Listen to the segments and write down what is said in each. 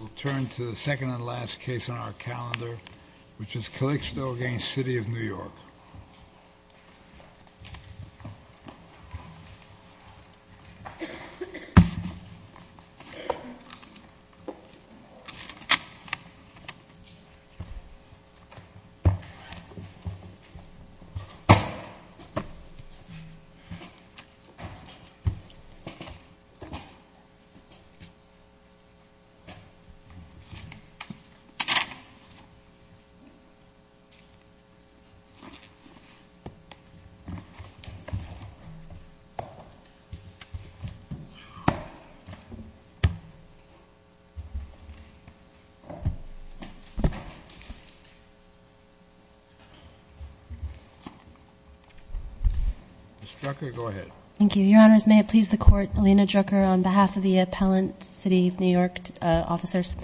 We'll turn to the second and last case on our calendar, which is Calixto v. City of New York. Ms. Drucker, go ahead. Thank you. Your Honors, may it please the Court, Alina Drucker on behalf of the appellant, City of New York officers.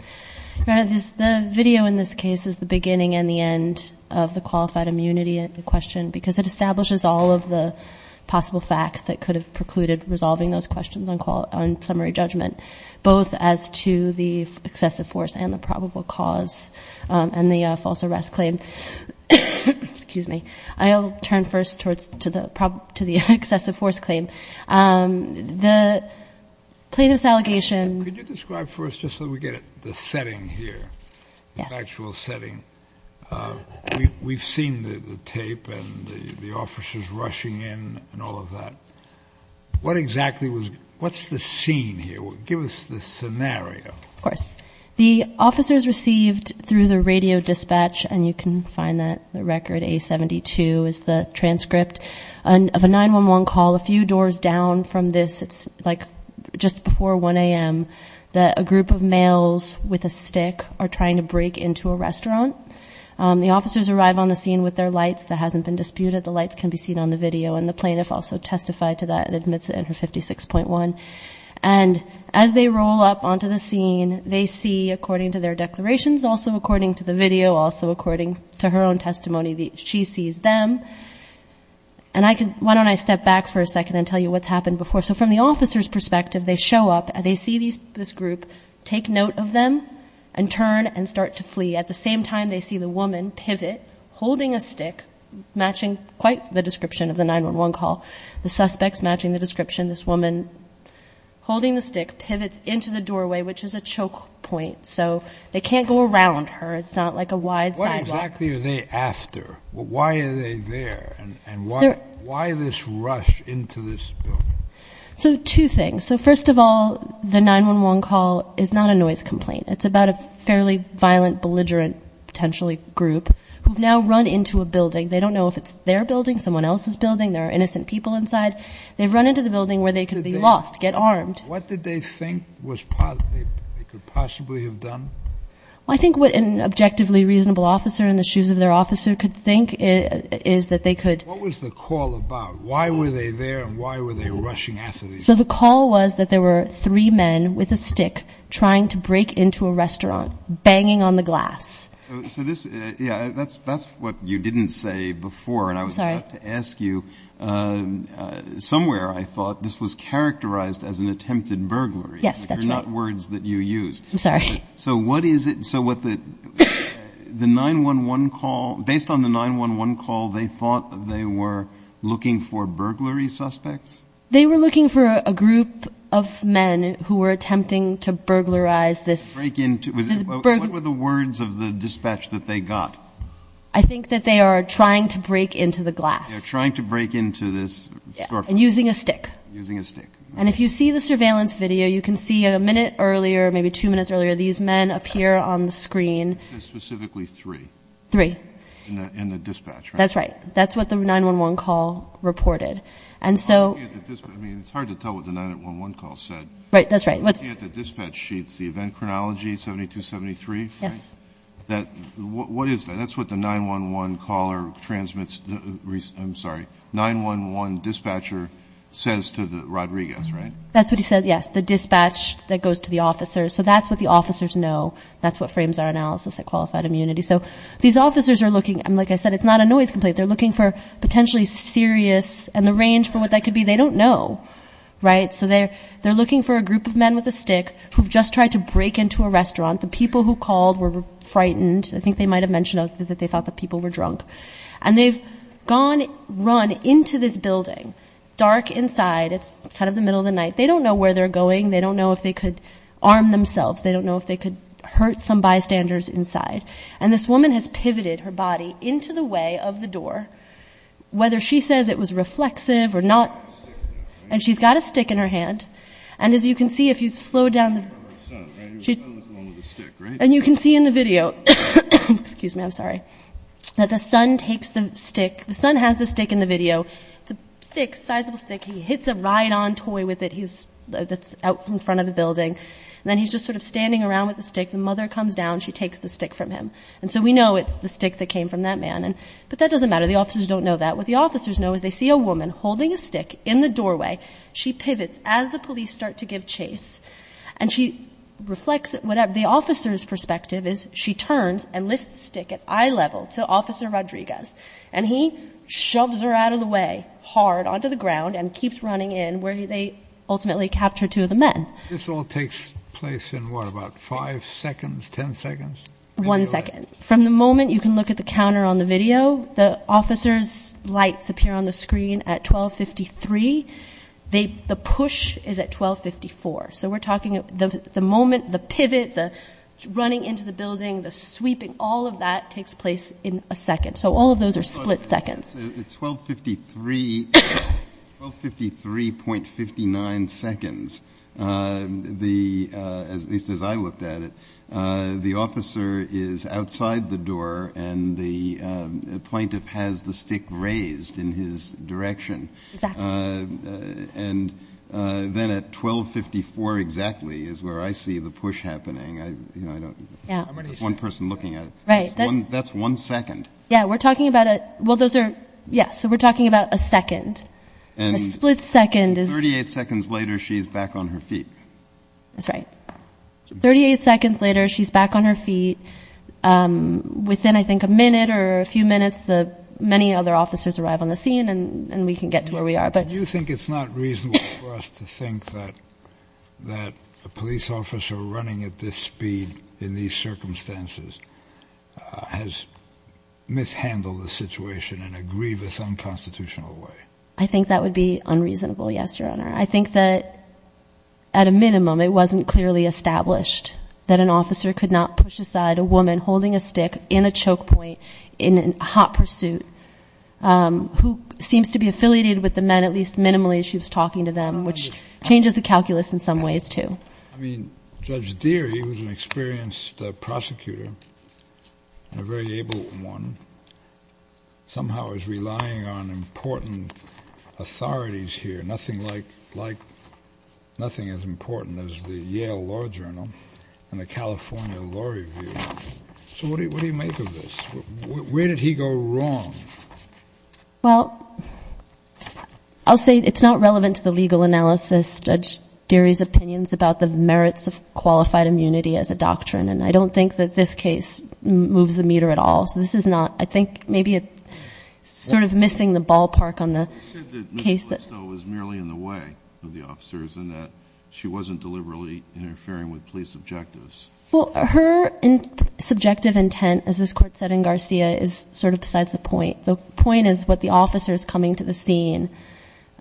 Your Honors, the video in this case is the beginning and the end of the qualified immunity question, because it establishes all of the possible facts that could have precluded resolving those questions on summary judgment, both as to the excessive force and the probable cause and the false arrest claim. Excuse me. I'll turn first to the excessive force claim. The plaintiff's allegation... Could you describe first, just so we get the setting here, the actual setting? We've seen the tape and the officers rushing in and all of that. What exactly was... what's the scene here? Give us the scenario. Of course. The officers received through the radio dispatch, and you can find that, the record A-72 is the transcript, of a 911 call a few doors down from this. It's like just before 1 a.m. that a group of males with a stick are trying to break into a restaurant. The officers arrive on the scene with their lights. That hasn't been disputed. The lights can be seen on the video, and the plaintiff also testified to that and admits it in her 56.1. And as they roll up onto the scene, they see, according to their declarations, also according to the video, also according to her own testimony, she sees them. And I can... why don't I step back for a second and tell you what's happened before. So from the officer's perspective, they show up and they see this group, take note of them, and turn and start to flee. At the same time, they see the woman pivot, holding a stick, matching quite the description of the 911 call. The suspect's matching the description. This woman, holding the stick, pivots into the doorway, which is a choke point. So they can't go around her. It's not like a wide sidewalk. What exactly are they after? Why are they there? And why this rush into this building? So two things. So first of all, the 911 call is not a noise complaint. It's about a fairly violent, belligerent, potentially, group who have now run into a building. They don't know if it's their building, someone else's building, there are innocent people inside. They've run into the building where they could be lost, get armed. What did they think they could possibly have done? I think what an objectively reasonable officer in the shoes of their officer could think is that they could... What was the call about? Why were they there and why were they rushing after these people? So the call was that there were three men with a stick trying to break into a restaurant, banging on the glass. So this, yeah, that's what you didn't say before. I'm sorry. And I was about to ask you, somewhere I thought this was characterized as an attempted burglary. Yes, that's right. They're not words that you use. I'm sorry. So what is it, so what the 911 call, based on the 911 call, they thought they were looking for burglary suspects? They were looking for a group of men who were attempting to burglarize this... What were the words of the dispatch that they got? I think that they are trying to break into the glass. They're trying to break into this storefront. And using a stick. Using a stick. And if you see the surveillance video, you can see a minute earlier, maybe two minutes earlier, these men appear on the screen. This is specifically three. Three. In the dispatch, right? That's right. That's what the 911 call reported. And so... I mean, it's hard to tell what the 911 call said. Right, that's right. If you look at the dispatch sheets, the event chronology, 7273, right? Yes. What is that? That's what the 911 caller transmits, I'm sorry, 911 dispatcher says to Rodriguez, right? That's what he says, yes. The dispatch that goes to the officers. So that's what the officers know. That's what frames our analysis at qualified immunity. So these officers are looking, like I said, it's not a noise complaint. They're looking for potentially serious, and the range for what that could be, they don't know, right? So they're looking for a group of men with a stick who've just tried to break into a restaurant. The people who called were frightened. I think they might have mentioned that they thought the people were drunk. And they've gone, run into this building, dark inside. It's kind of the middle of the night. They don't know where they're going. They don't know if they could arm themselves. They don't know if they could hurt some bystanders inside. And this woman has pivoted her body into the way of the door, whether she says it was reflexive or not. And she's got a stick in her hand. And as you can see, if you slow down, and you can see in the video, excuse me, I'm sorry, that the son takes the stick. The son has the stick in the video. It's a stick, sizable stick. He hits a ride-on toy with it that's out in front of the building. And then he's just sort of standing around with the stick. The mother comes down. She takes the stick from him. And so we know it's the stick that came from that man. But that doesn't matter. The officers don't know that. What the officers know is they see a woman holding a stick in the doorway. She pivots as the police start to give chase. And she reflects whatever the officer's perspective is. She turns and lifts the stick at eye level to Officer Rodriguez. And he shoves her out of the way hard onto the ground and keeps running in where they ultimately capture two of the men. This all takes place in what, about five seconds, ten seconds? One second. From the moment you can look at the counter on the video, the officers' lights appear on the screen at 12.53. The push is at 12.54. So we're talking the moment, the pivot, the running into the building, the sweeping. All of that takes place in a second. So all of those are split seconds. At 12.53, 12.53.59 seconds, at least as I looked at it, the officer is outside the door and the plaintiff has the stick raised in his direction. Exactly. And then at 12.54 exactly is where I see the push happening. I'm just one person looking at it. Right. That's one second. Yeah, we're talking about it. Well, those are. Yes. So we're talking about a second. And a split second is. Thirty-eight seconds later, she's back on her feet. That's right. Thirty-eight seconds later, she's back on her feet. Within, I think, a minute or a few minutes, the many other officers arrive on the scene and we can get to where we are. Do you think it's not reasonable for us to think that a police officer running at this speed in these circumstances has mishandled the situation in a grievous, unconstitutional way? I think that would be unreasonable, yes, Your Honor. I think that, at a minimum, it wasn't clearly established that an officer could not push aside a woman holding a stick in a choke point in a hot pursuit who seems to be affiliated with the men, at least minimally, as she was talking to them, which changes the calculus in some ways, too. I mean, Judge Deary, who's an experienced prosecutor and a very able one, somehow is relying on important authorities here, nothing like, like, nothing as important as the Yale Law Journal and the California Law Review. So what do you make of this? Where did he go wrong? Well, I'll say it's not relevant to the legal analysis, Judge Deary's opinions, about the merits of qualified immunity as a doctrine. And I don't think that this case moves the meter at all. So this is not, I think, maybe sort of missing the ballpark on the case. You said that Ms. Blystow was merely in the way of the officers and that she wasn't deliberately interfering with police objectives. Well, her subjective intent, as this Court said in Garcia, is sort of besides the point. The point is what the officers coming to the scene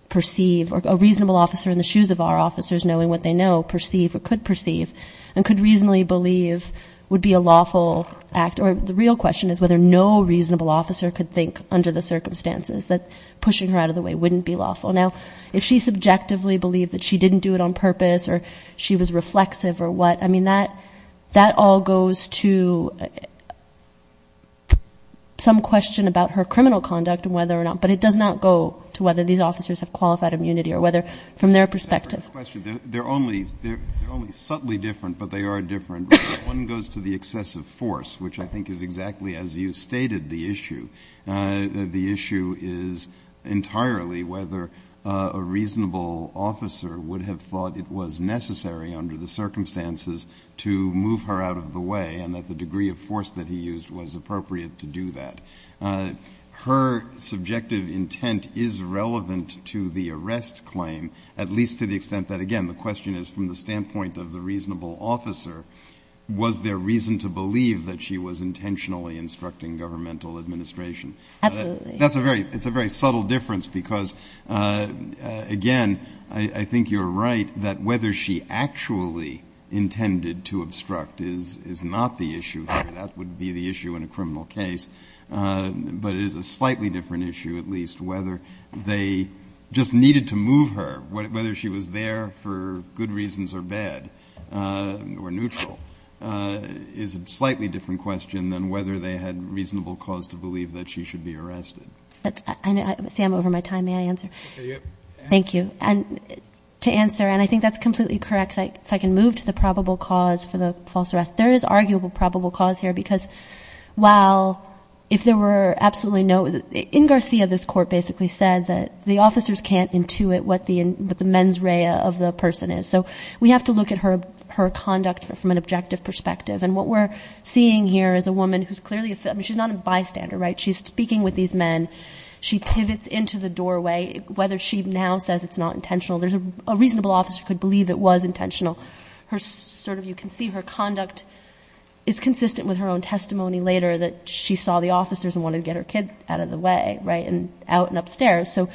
perceive, or a reasonable officer in the shoes of our officers, knowing what they know, perceive or could perceive and could reasonably believe would be a lawful act. Or the real question is whether no reasonable officer could think under the circumstances that pushing her out of the way wouldn't be lawful. Now, if she subjectively believed that she didn't do it on purpose or she was reflexive or what, I mean, that all goes to some question about her criminal conduct and whether or not. But it does not go to whether these officers have qualified immunity or whether from their perspective. They're only subtly different, but they are different. One goes to the excessive force, which I think is exactly as you stated the issue. The issue is entirely whether a reasonable officer would have thought it was necessary under the circumstances to move her out of the way and that the degree of force that he used was appropriate to do that. Her subjective intent is relevant to the arrest claim, at least to the extent that, again, the question is from the standpoint of the reasonable officer, was there reason to believe that she was intentionally instructing governmental administration? Absolutely. It's a very subtle difference because, again, I think you're right that whether she actually intended to obstruct is not the issue here. That would be the issue in a criminal case. But it is a slightly different issue, at least, whether they just needed to move her, whether she was there for good reasons or bad or neutral, is a slightly different question than whether they had reasonable cause to believe that she should be arrested. See, I'm over my time. May I answer? Thank you. And to answer, and I think that's completely correct, if I can move to the probable cause for the false arrest. There is arguable probable cause here because while if there were absolutely no — in Garcia, this court basically said that the officers can't intuit what the mens rea of the person is. So we have to look at her conduct from an objective perspective. And what we're seeing here is a woman who's clearly — I mean, she's not a bystander, right? She's speaking with these men. She pivots into the doorway. Whether she now says it's not intentional, there's a — a reasonable officer could believe it was intentional. Her sort of — you can see her conduct is consistent with her own testimony later that she saw the officers and wanted to get her kid out of the way, right, and out and upstairs. So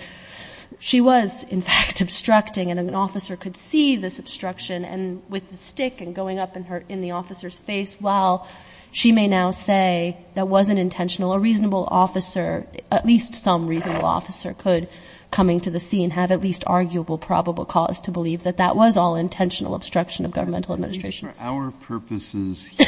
she was, in fact, obstructing, and an officer could see this obstruction and with the stick and going up in her — in the officer's face while she may now say that wasn't intentional. A reasonable officer, at least some reasonable officer, could, coming to the scene, have at least arguable probable cause to believe that that was all intentional obstruction of governmental administration. Just for our purposes here,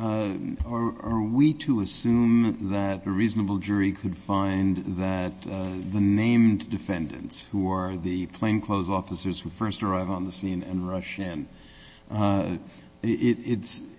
are we to assume that a reasonable jury could find that the named defendants, who are the plainclothes officers who first arrive on the scene and rush in, it's —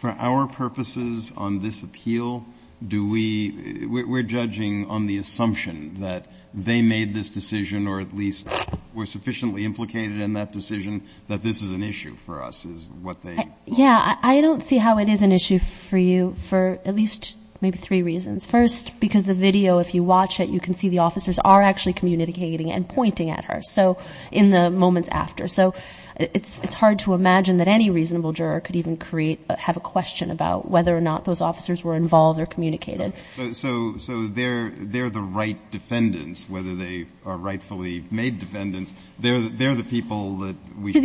For our purposes on this appeal, do we — we're judging on the assumption that they made this decision or at least were sufficiently implicated in that decision that this is an issue for us, is what they — Yeah. I don't see how it is an issue for you for at least maybe three reasons. First, because the video, if you watch it, you can see the officers are actually communicating and pointing at her, so — in the moments after. So it's hard to imagine that any reasonable juror could even create — have a question about whether or not those officers were involved or communicated. So they're the right defendants, whether they are rightfully made defendants. They're the people that we — To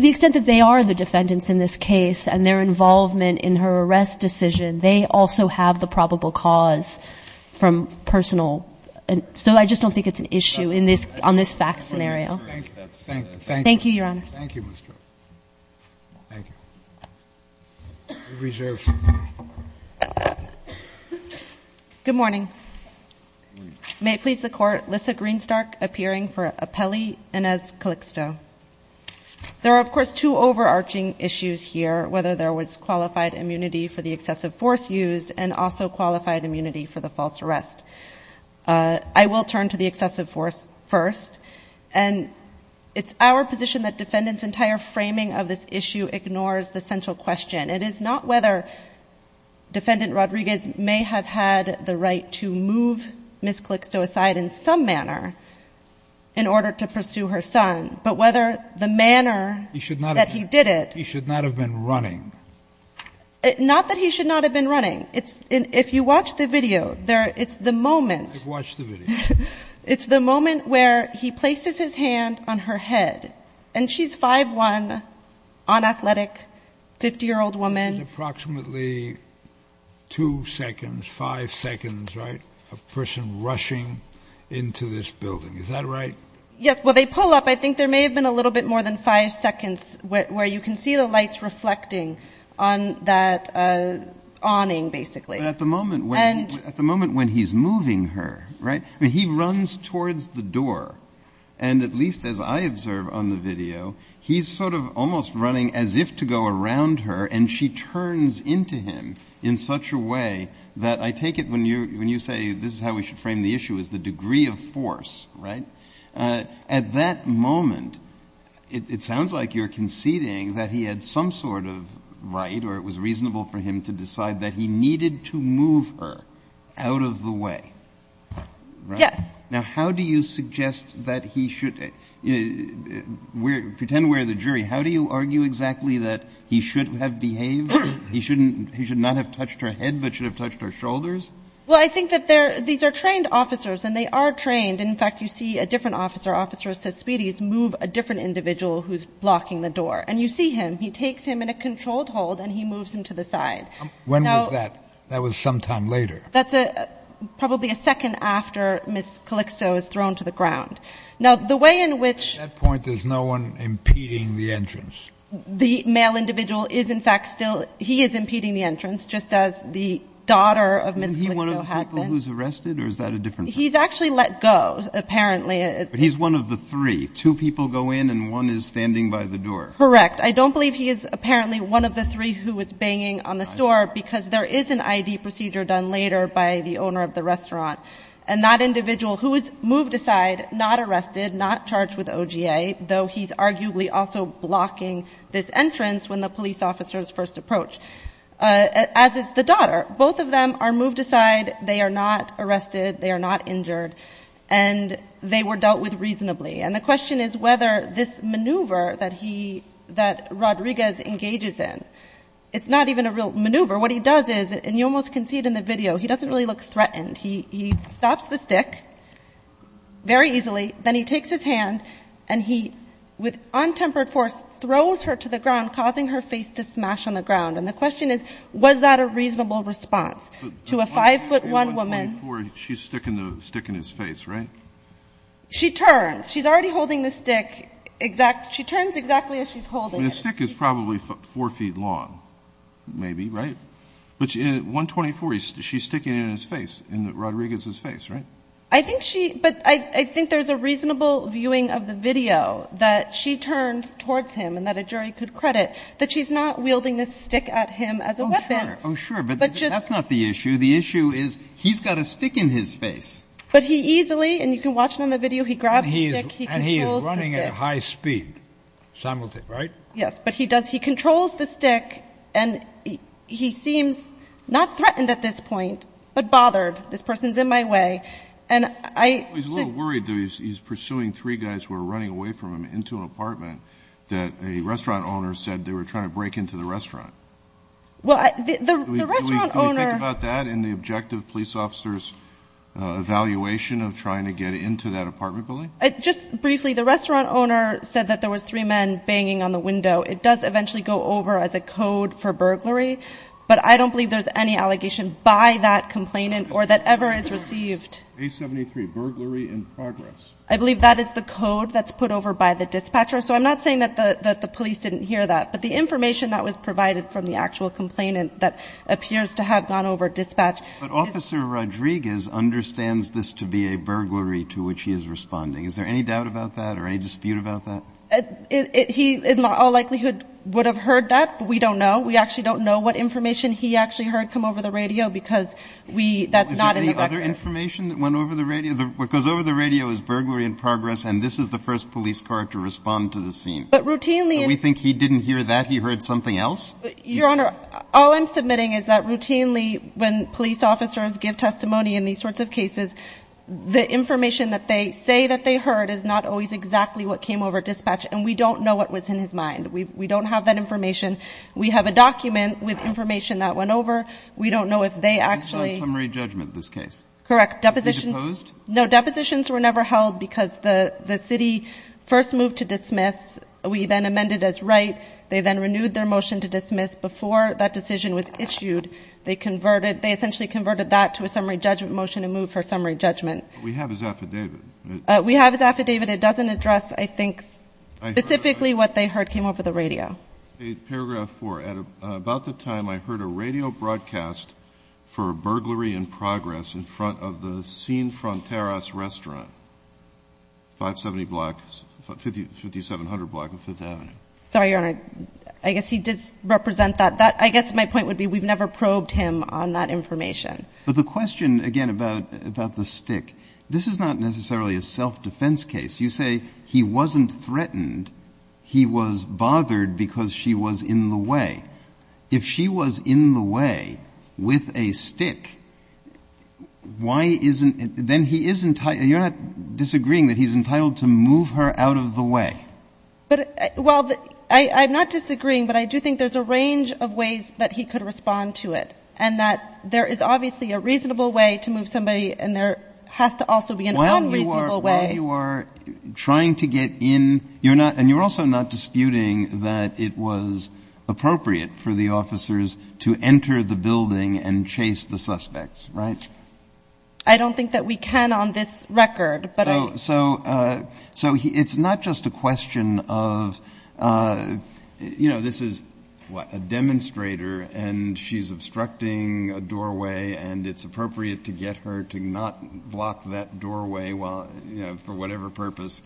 the extent that they are the defendants in this case and their involvement in her arrest decision, they also have the probable cause from personal — so I just don't think it's an issue in this — on this fact scenario. Thank you. Thank you, Your Honors. Thank you, Ms. Stark. Thank you. We reserve some time. Good morning. Good morning. May it please the Court, Lyssa Greenstark appearing for Appelli and as Calixto. There are, of course, two overarching issues here, whether there was qualified immunity for the excessive force used and also qualified immunity for the false arrest. I will turn to the excessive force first. And it's our position that defendants' entire framing of this issue ignores the central question. It is not whether Defendant Rodriguez may have had the right to move Ms. Calixto aside in some manner in order to pursue her son, but whether the manner that he did it — He should not have been running. Not that he should not have been running. If you watch the video, it's the moment — I've watched the video. It's the moment where he places his hand on her head. And she's 5'1", unathletic, 50-year-old woman. It's approximately two seconds, five seconds, right, a person rushing into this building. Is that right? Yes. Well, they pull up. I think there may have been a little bit more than five seconds where you can see the lights reflecting on that awning, basically. But at the moment when he's moving her, right, I mean, he runs towards the door. And at least as I observe on the video, he's sort of almost running as if to go around her. And she turns into him in such a way that I take it when you say this is how we should frame the issue is the degree of force, right? At that moment, it sounds like you're conceding that he had some sort of right or it was reasonable for him to decide that he needed to move her out of the way, right? Yes. Now, how do you suggest that he should — pretend we're the jury. How do you argue exactly that he should have behaved? He should not have touched her head but should have touched her shoulders? Well, I think that these are trained officers, and they are trained. And, in fact, you see a different officer, officer of suspicions, move a different individual who's blocking the door. And you see him. He takes him in a controlled hold, and he moves him to the side. When was that? That was sometime later. That's probably a second after Ms. Calixto is thrown to the ground. Now, the way in which — At that point, there's no one impeding the entrance. The male individual is, in fact, still — he is impeding the entrance just as the daughter of Ms. Calixto had been. Isn't he one of the people who's arrested, or is that a different situation? He's actually let go, apparently. But he's one of the three. Two people go in, and one is standing by the door. Correct. I don't believe he is apparently one of the three who was banging on the door because there is an I.D. procedure done later by the owner of the restaurant. And that individual who is moved aside, not arrested, not charged with OGA, though he's arguably also blocking this entrance when the police officers first approach, as is the daughter. Both of them are moved aside. They are not arrested. They are not injured. And they were dealt with reasonably. And the question is whether this maneuver that he — that Rodriguez engages in, it's not even a real maneuver. What he does is — and you almost can see it in the video. He doesn't really look threatened. He stops the stick very easily. Then he takes his hand, and he, with untempered force, throws her to the ground, causing her face to smash on the ground. And the question is, was that a reasonable response to a 5'1 woman — I mean, you're speaking to sticking his face, right? She turns. She's already holding the stick exactly — she turns exactly as she's holding it. And the stick is probably 4 feet long, maybe, right? But at 124, she's sticking it in his face, in Rodriguez's face, right? I think she — but I think there's a reasonable viewing of the video that she turned towards him and that a jury could credit, that she's not wielding this stick at him as a weapon. Oh, sure. Oh, sure. But that's not the issue. The issue is he's got a stick in his face. But he easily — and you can watch it on the video — he grabs the stick, he controls the stick. And he is running at high speed simultaneously, right? Yes. But he does — he controls the stick, and he seems not threatened at this point, but bothered. This person's in my way. And I — Well, he's a little worried, though. He's pursuing three guys who are running away from him into an apartment that a restaurant owner said they were trying to break into the restaurant. Well, the restaurant owner — Do we think about that in the objective police officer's evaluation of trying to get into that apartment building? Just briefly, the restaurant owner said that there was three men banging on the window. It does eventually go over as a code for burglary. But I don't believe there's any allegation by that complainant or that ever is received. A73, burglary in progress. I believe that is the code that's put over by the dispatcher. So I'm not saying that the police didn't hear that. But the information that was provided from the actual complainant that appears to have gone over dispatch — But Officer Rodriguez understands this to be a burglary to which he is responding. Is there any doubt about that or any dispute about that? He in all likelihood would have heard that, but we don't know. We actually don't know what information he actually heard come over the radio because we — that's not in the record. Is there any other information that went over the radio? What goes over the radio is burglary in progress, and this is the first police car to respond to the scene. But routinely — So we think he didn't hear that. He heard something else? Your Honor, all I'm submitting is that routinely when police officers give testimony in these sorts of cases, the information that they say that they heard is not always exactly what came over dispatch. And we don't know what was in his mind. We don't have that information. We have a document with information that went over. We don't know if they actually — This is a summary judgment, this case. Correct. Depositions — Was he deposed? No, depositions were never held because the city first moved to dismiss. We then amended as write. They then renewed their motion to dismiss. Before that decision was issued, they converted — they essentially converted that to a summary judgment motion and moved for summary judgment. We have his affidavit. We have his affidavit. It doesn't address, I think, specifically what they heard came over the radio. Paragraph 4. About the time I heard a radio broadcast for a burglary in progress in front of the Scene Fronteras restaurant, 570 block, 5700 block of 5th Avenue. Sorry, Your Honor. I guess he did represent that. I guess my point would be we've never probed him on that information. But the question, again, about the stick, this is not necessarily a self-defense case. You say he wasn't threatened. He was bothered because she was in the way. If she was in the way with a stick, why isn't — then he isn't — you're not disagreeing that he's entitled to move her out of the way. But — well, I'm not disagreeing, but I do think there's a range of ways that he could respond to it, and that there is obviously a reasonable way to move somebody, and there has to also be an unreasonable way. But while you are trying to get in, you're not — and you're also not disputing that it was appropriate for the officers to enter the building and chase the suspects, right? I don't think that we can on this record, but I — So it's not just a question of — you know, this is a demonstrator, and she's obstructing a doorway, and it's appropriate to get her to not block that doorway while — you know, for whatever purpose.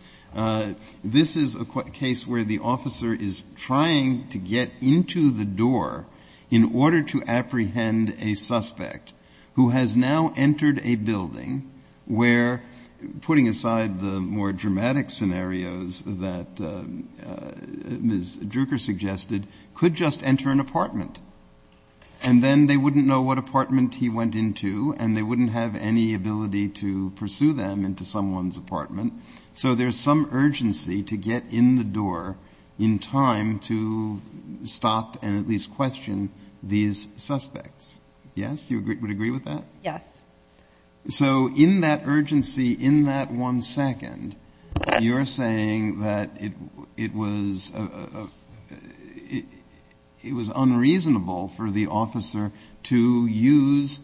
This is a case where the officer is trying to get into the door in order to apprehend a suspect who has now entered a building where, putting aside the more dramatic scenarios that Ms. Druker suggested, could just enter an apartment. And then they wouldn't know what apartment he went into, and they wouldn't have any ability to pursue them into someone's apartment. So there's some urgency to get in the door in time to stop and at least question these suspects. Yes? You would agree with that? Yes. So in that urgency, in that one second, you're saying that it was unreasonable for the officer to use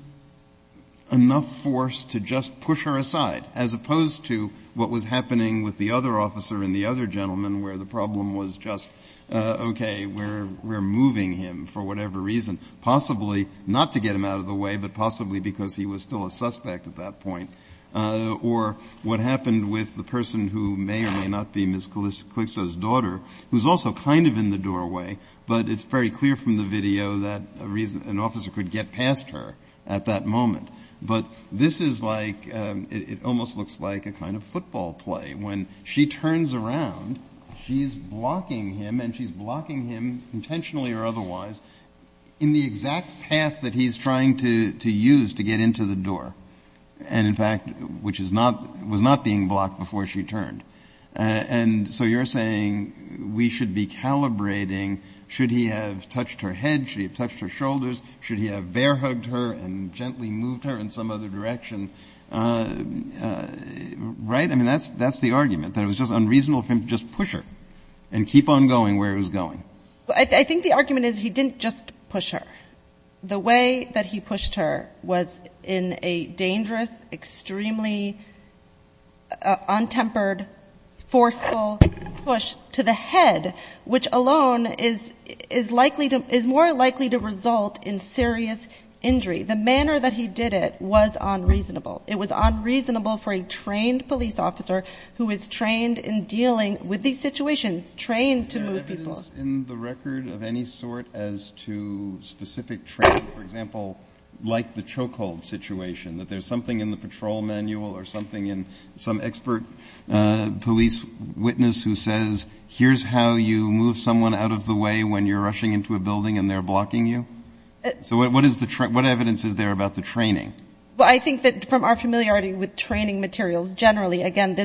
enough force to just push her aside, as opposed to what was happening with the other officer and the other gentleman, where the problem was just, okay, we're moving him for whatever reason, possibly not to get him out of the way, but possibly because he was still a suspect at that point, or what happened with the person who may or may not be Ms. Kligstra's daughter, who's also kind of in the doorway, but it's very clear from the video that an officer could get past her at that moment. But this is like, it almost looks like a kind of football play. When she turns around, she's blocking him, and she's blocking him, intentionally or otherwise, in the exact path that he's trying to use to get into the door, and in fact, which was not being blocked before she turned. And so you're saying we should be calibrating, should he have touched her head, should he have touched her shoulders, should he have bear-hugged her and gently moved her in some other direction, right? I mean, that's the argument, that it was just unreasonable for him to just push her and keep on going where he was going. I think the argument is he didn't just push her. The way that he pushed her was in a dangerous, extremely untempered, forceful push to the head, which alone is more likely to result in serious injury. The manner that he did it was unreasonable. It was unreasonable for a trained police officer who is trained in dealing with these situations, trained to move people. Is there evidence in the record of any sort as to specific training, for example, like the chokehold situation, that there's something in the patrol manual or something in some expert police witness who says, here's how you move someone out of the way when you're rushing into a building and they're blocking you? So what evidence is there about the training? Well, I think that from our familiarity with training materials, generally, again,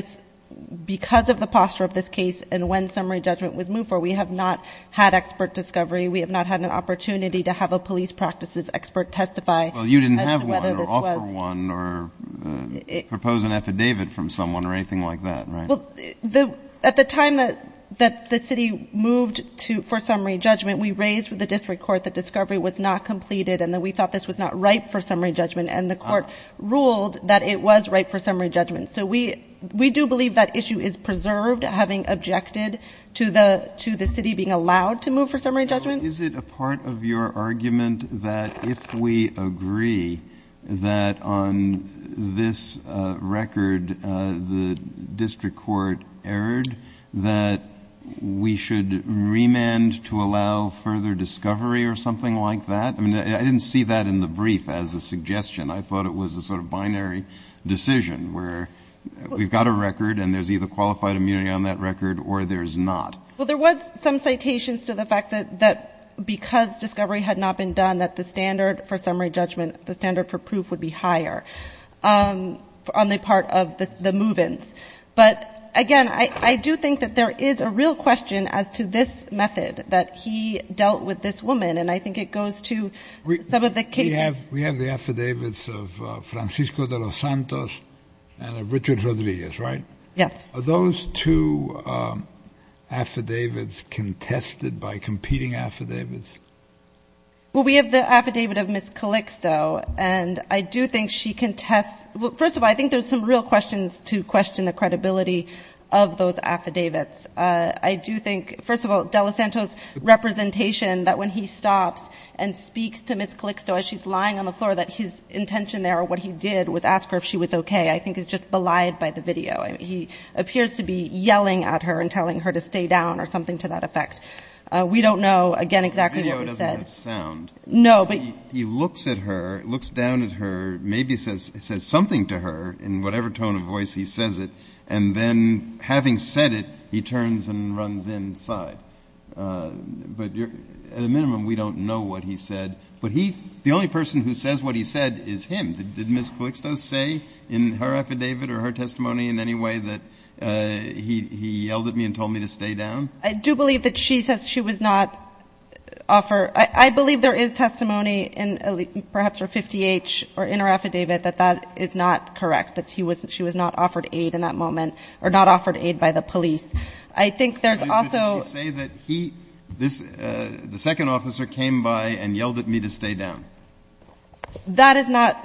because of the posture of this case and when summary judgment was moved for, we have not had expert discovery. We have not had an opportunity to have a police practices expert testify as to whether this was. Propose an affidavit from someone or anything like that. Well, at the time that the city moved for summary judgment, we raised with the district court that discovery was not completed and that we thought this was not right for summary judgment. And the court ruled that it was right for summary judgment. So we do believe that issue is preserved, having objected to the city being allowed to move for summary judgment. Is it a part of your argument that if we agree that on this record the district court erred, that we should remand to allow further discovery or something like that? I mean, I didn't see that in the brief as a suggestion. I thought it was a sort of binary decision where we've got a record and there's either qualified immunity on that record or there's not. Well, there was some citations to the fact that because discovery had not been done, that the standard for summary judgment, the standard for proof would be higher on the part of the move-ins. But, again, I do think that there is a real question as to this method that he dealt with this woman. And I think it goes to some of the cases. We have the affidavits of Francisco de los Santos and of Richard Rodriguez, right? Yes. Are those two affidavits contested by competing affidavits? Well, we have the affidavit of Ms. Calixto, and I do think she contests ‑‑ well, first of all, I think there's some real questions to question the credibility of those affidavits. I do think, first of all, de los Santos' representation, that when he stops and speaks to Ms. Calixto as she's lying on the floor, that his intention there or what he did was ask her if she was okay, I think is just belied by the video. I mean, he appears to be yelling at her and telling her to stay down or something to that effect. We don't know, again, exactly what he said. The video doesn't have sound. No, but ‑‑ He looks at her, looks down at her, maybe says something to her in whatever tone of voice he says it, and then having said it, he turns and runs inside. But at a minimum, we don't know what he said. But he ‑‑ the only person who says what he said is him. Did Ms. Calixto say in her affidavit or her testimony in any way that he yelled at me and told me to stay down? I do believe that she says she was not offered ‑‑ I believe there is testimony in perhaps her 50H or in her affidavit that that is not correct, that she was not offered aid in that moment or not offered aid by the police. I think there's also ‑‑ Did she say that he, the second officer, came by and yelled at me to stay down? That is not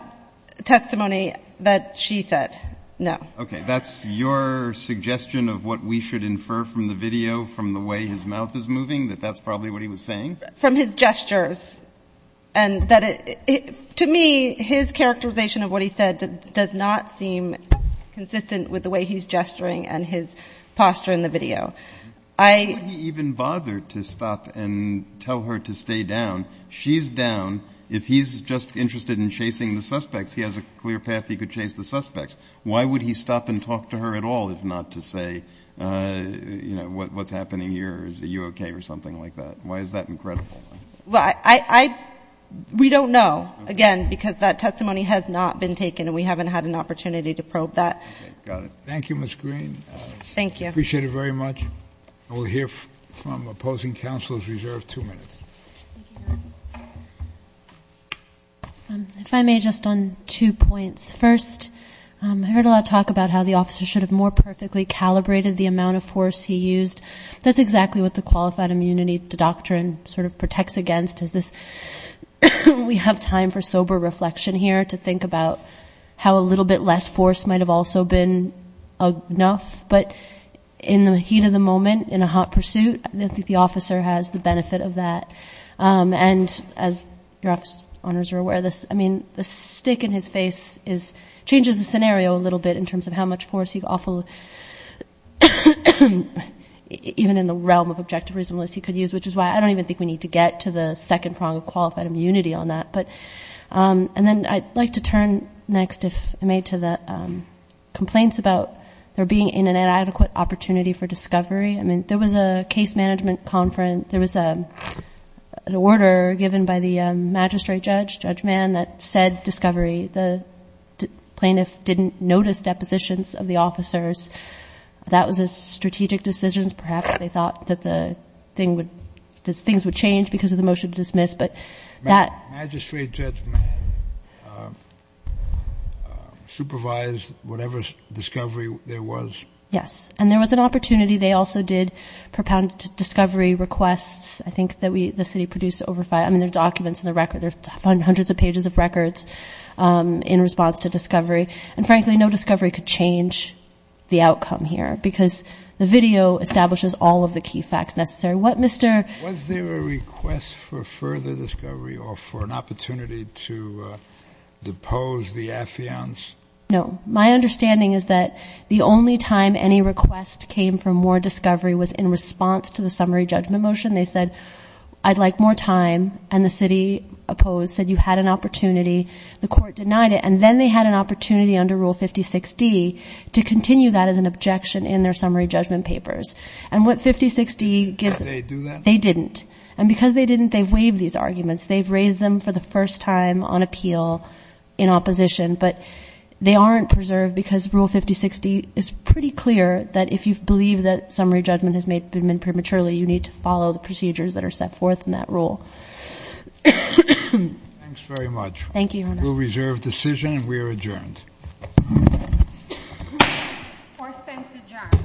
testimony that she said, no. Okay. That's your suggestion of what we should infer from the video from the way his mouth is moving, that that's probably what he was saying? From his gestures. And to me, his characterization of what he said does not seem consistent with the way he's gesturing and his posture in the video. I ‑‑ Why would he even bother to stop and tell her to stay down? She's down. If he's just interested in chasing the suspects, he has a clear path he could chase the suspects. Why would he stop and talk to her at all if not to say, you know, what's happening here or is it you okay or something like that? Why is that incredible? Well, I ‑‑ we don't know, again, because that testimony has not been taken and we haven't had an opportunity to probe that. Okay. Got it. Thank you, Ms. Green. Thank you. Appreciate it very much. We'll hear from opposing counselors reserved two minutes. If I may, just on two points. First, I heard a lot of talk about how the officer should have more perfectly calibrated the amount of force he used. That's exactly what the qualified immunity doctrine sort of protects against is this we have time for sober reflection here to think about how a little bit less force might have also been enough. But in the heat of the moment, in a hot pursuit, I don't think the officer has the benefit of that. And as your office owners are aware of this, I mean, the stick in his face changes the scenario a little bit in terms of how much force he can offer even in the realm of objective reasonableness he could use, which is why I don't even think we need to get to the second prong of qualified immunity on that. And then I'd like to turn next, if I may, to the complaints about there being an inadequate opportunity for discovery. I mean, there was a case management conference. There was an order given by the magistrate judge, Judge Mann, that said discovery. The plaintiff didn't notice depositions of the officers. That was a strategic decision. Perhaps they thought that things would change because of the motion to dismiss. But that. Magistrate Judge Mann supervised whatever discovery there was. Yes, and there was an opportunity. They also did propound discovery requests, I think, that the city produced over five. I mean, there are documents in the record. There are hundreds of pages of records in response to discovery. And frankly, no discovery could change the outcome here because the video establishes all of the key facts necessary. Was there a request for further discovery or for an opportunity to depose the affiance? No. My understanding is that the only time any request came for more discovery was in response to the summary judgment motion. They said, I'd like more time. And the city opposed, said you had an opportunity. The court denied it. And then they had an opportunity under Rule 56D to continue that as an objection in their summary judgment papers. And what 5060 gives. They didn't. And because they didn't, they've waived these arguments. They've raised them for the first time on appeal in opposition. But they aren't preserved because Rule 5060 is pretty clear that if you believe that summary judgment has been made prematurely, you need to follow the procedures that are set forth in that rule. Thanks very much. Thank you. We'll reserve decision and we are adjourned. For Spence adjourned. Thank you. Thank you.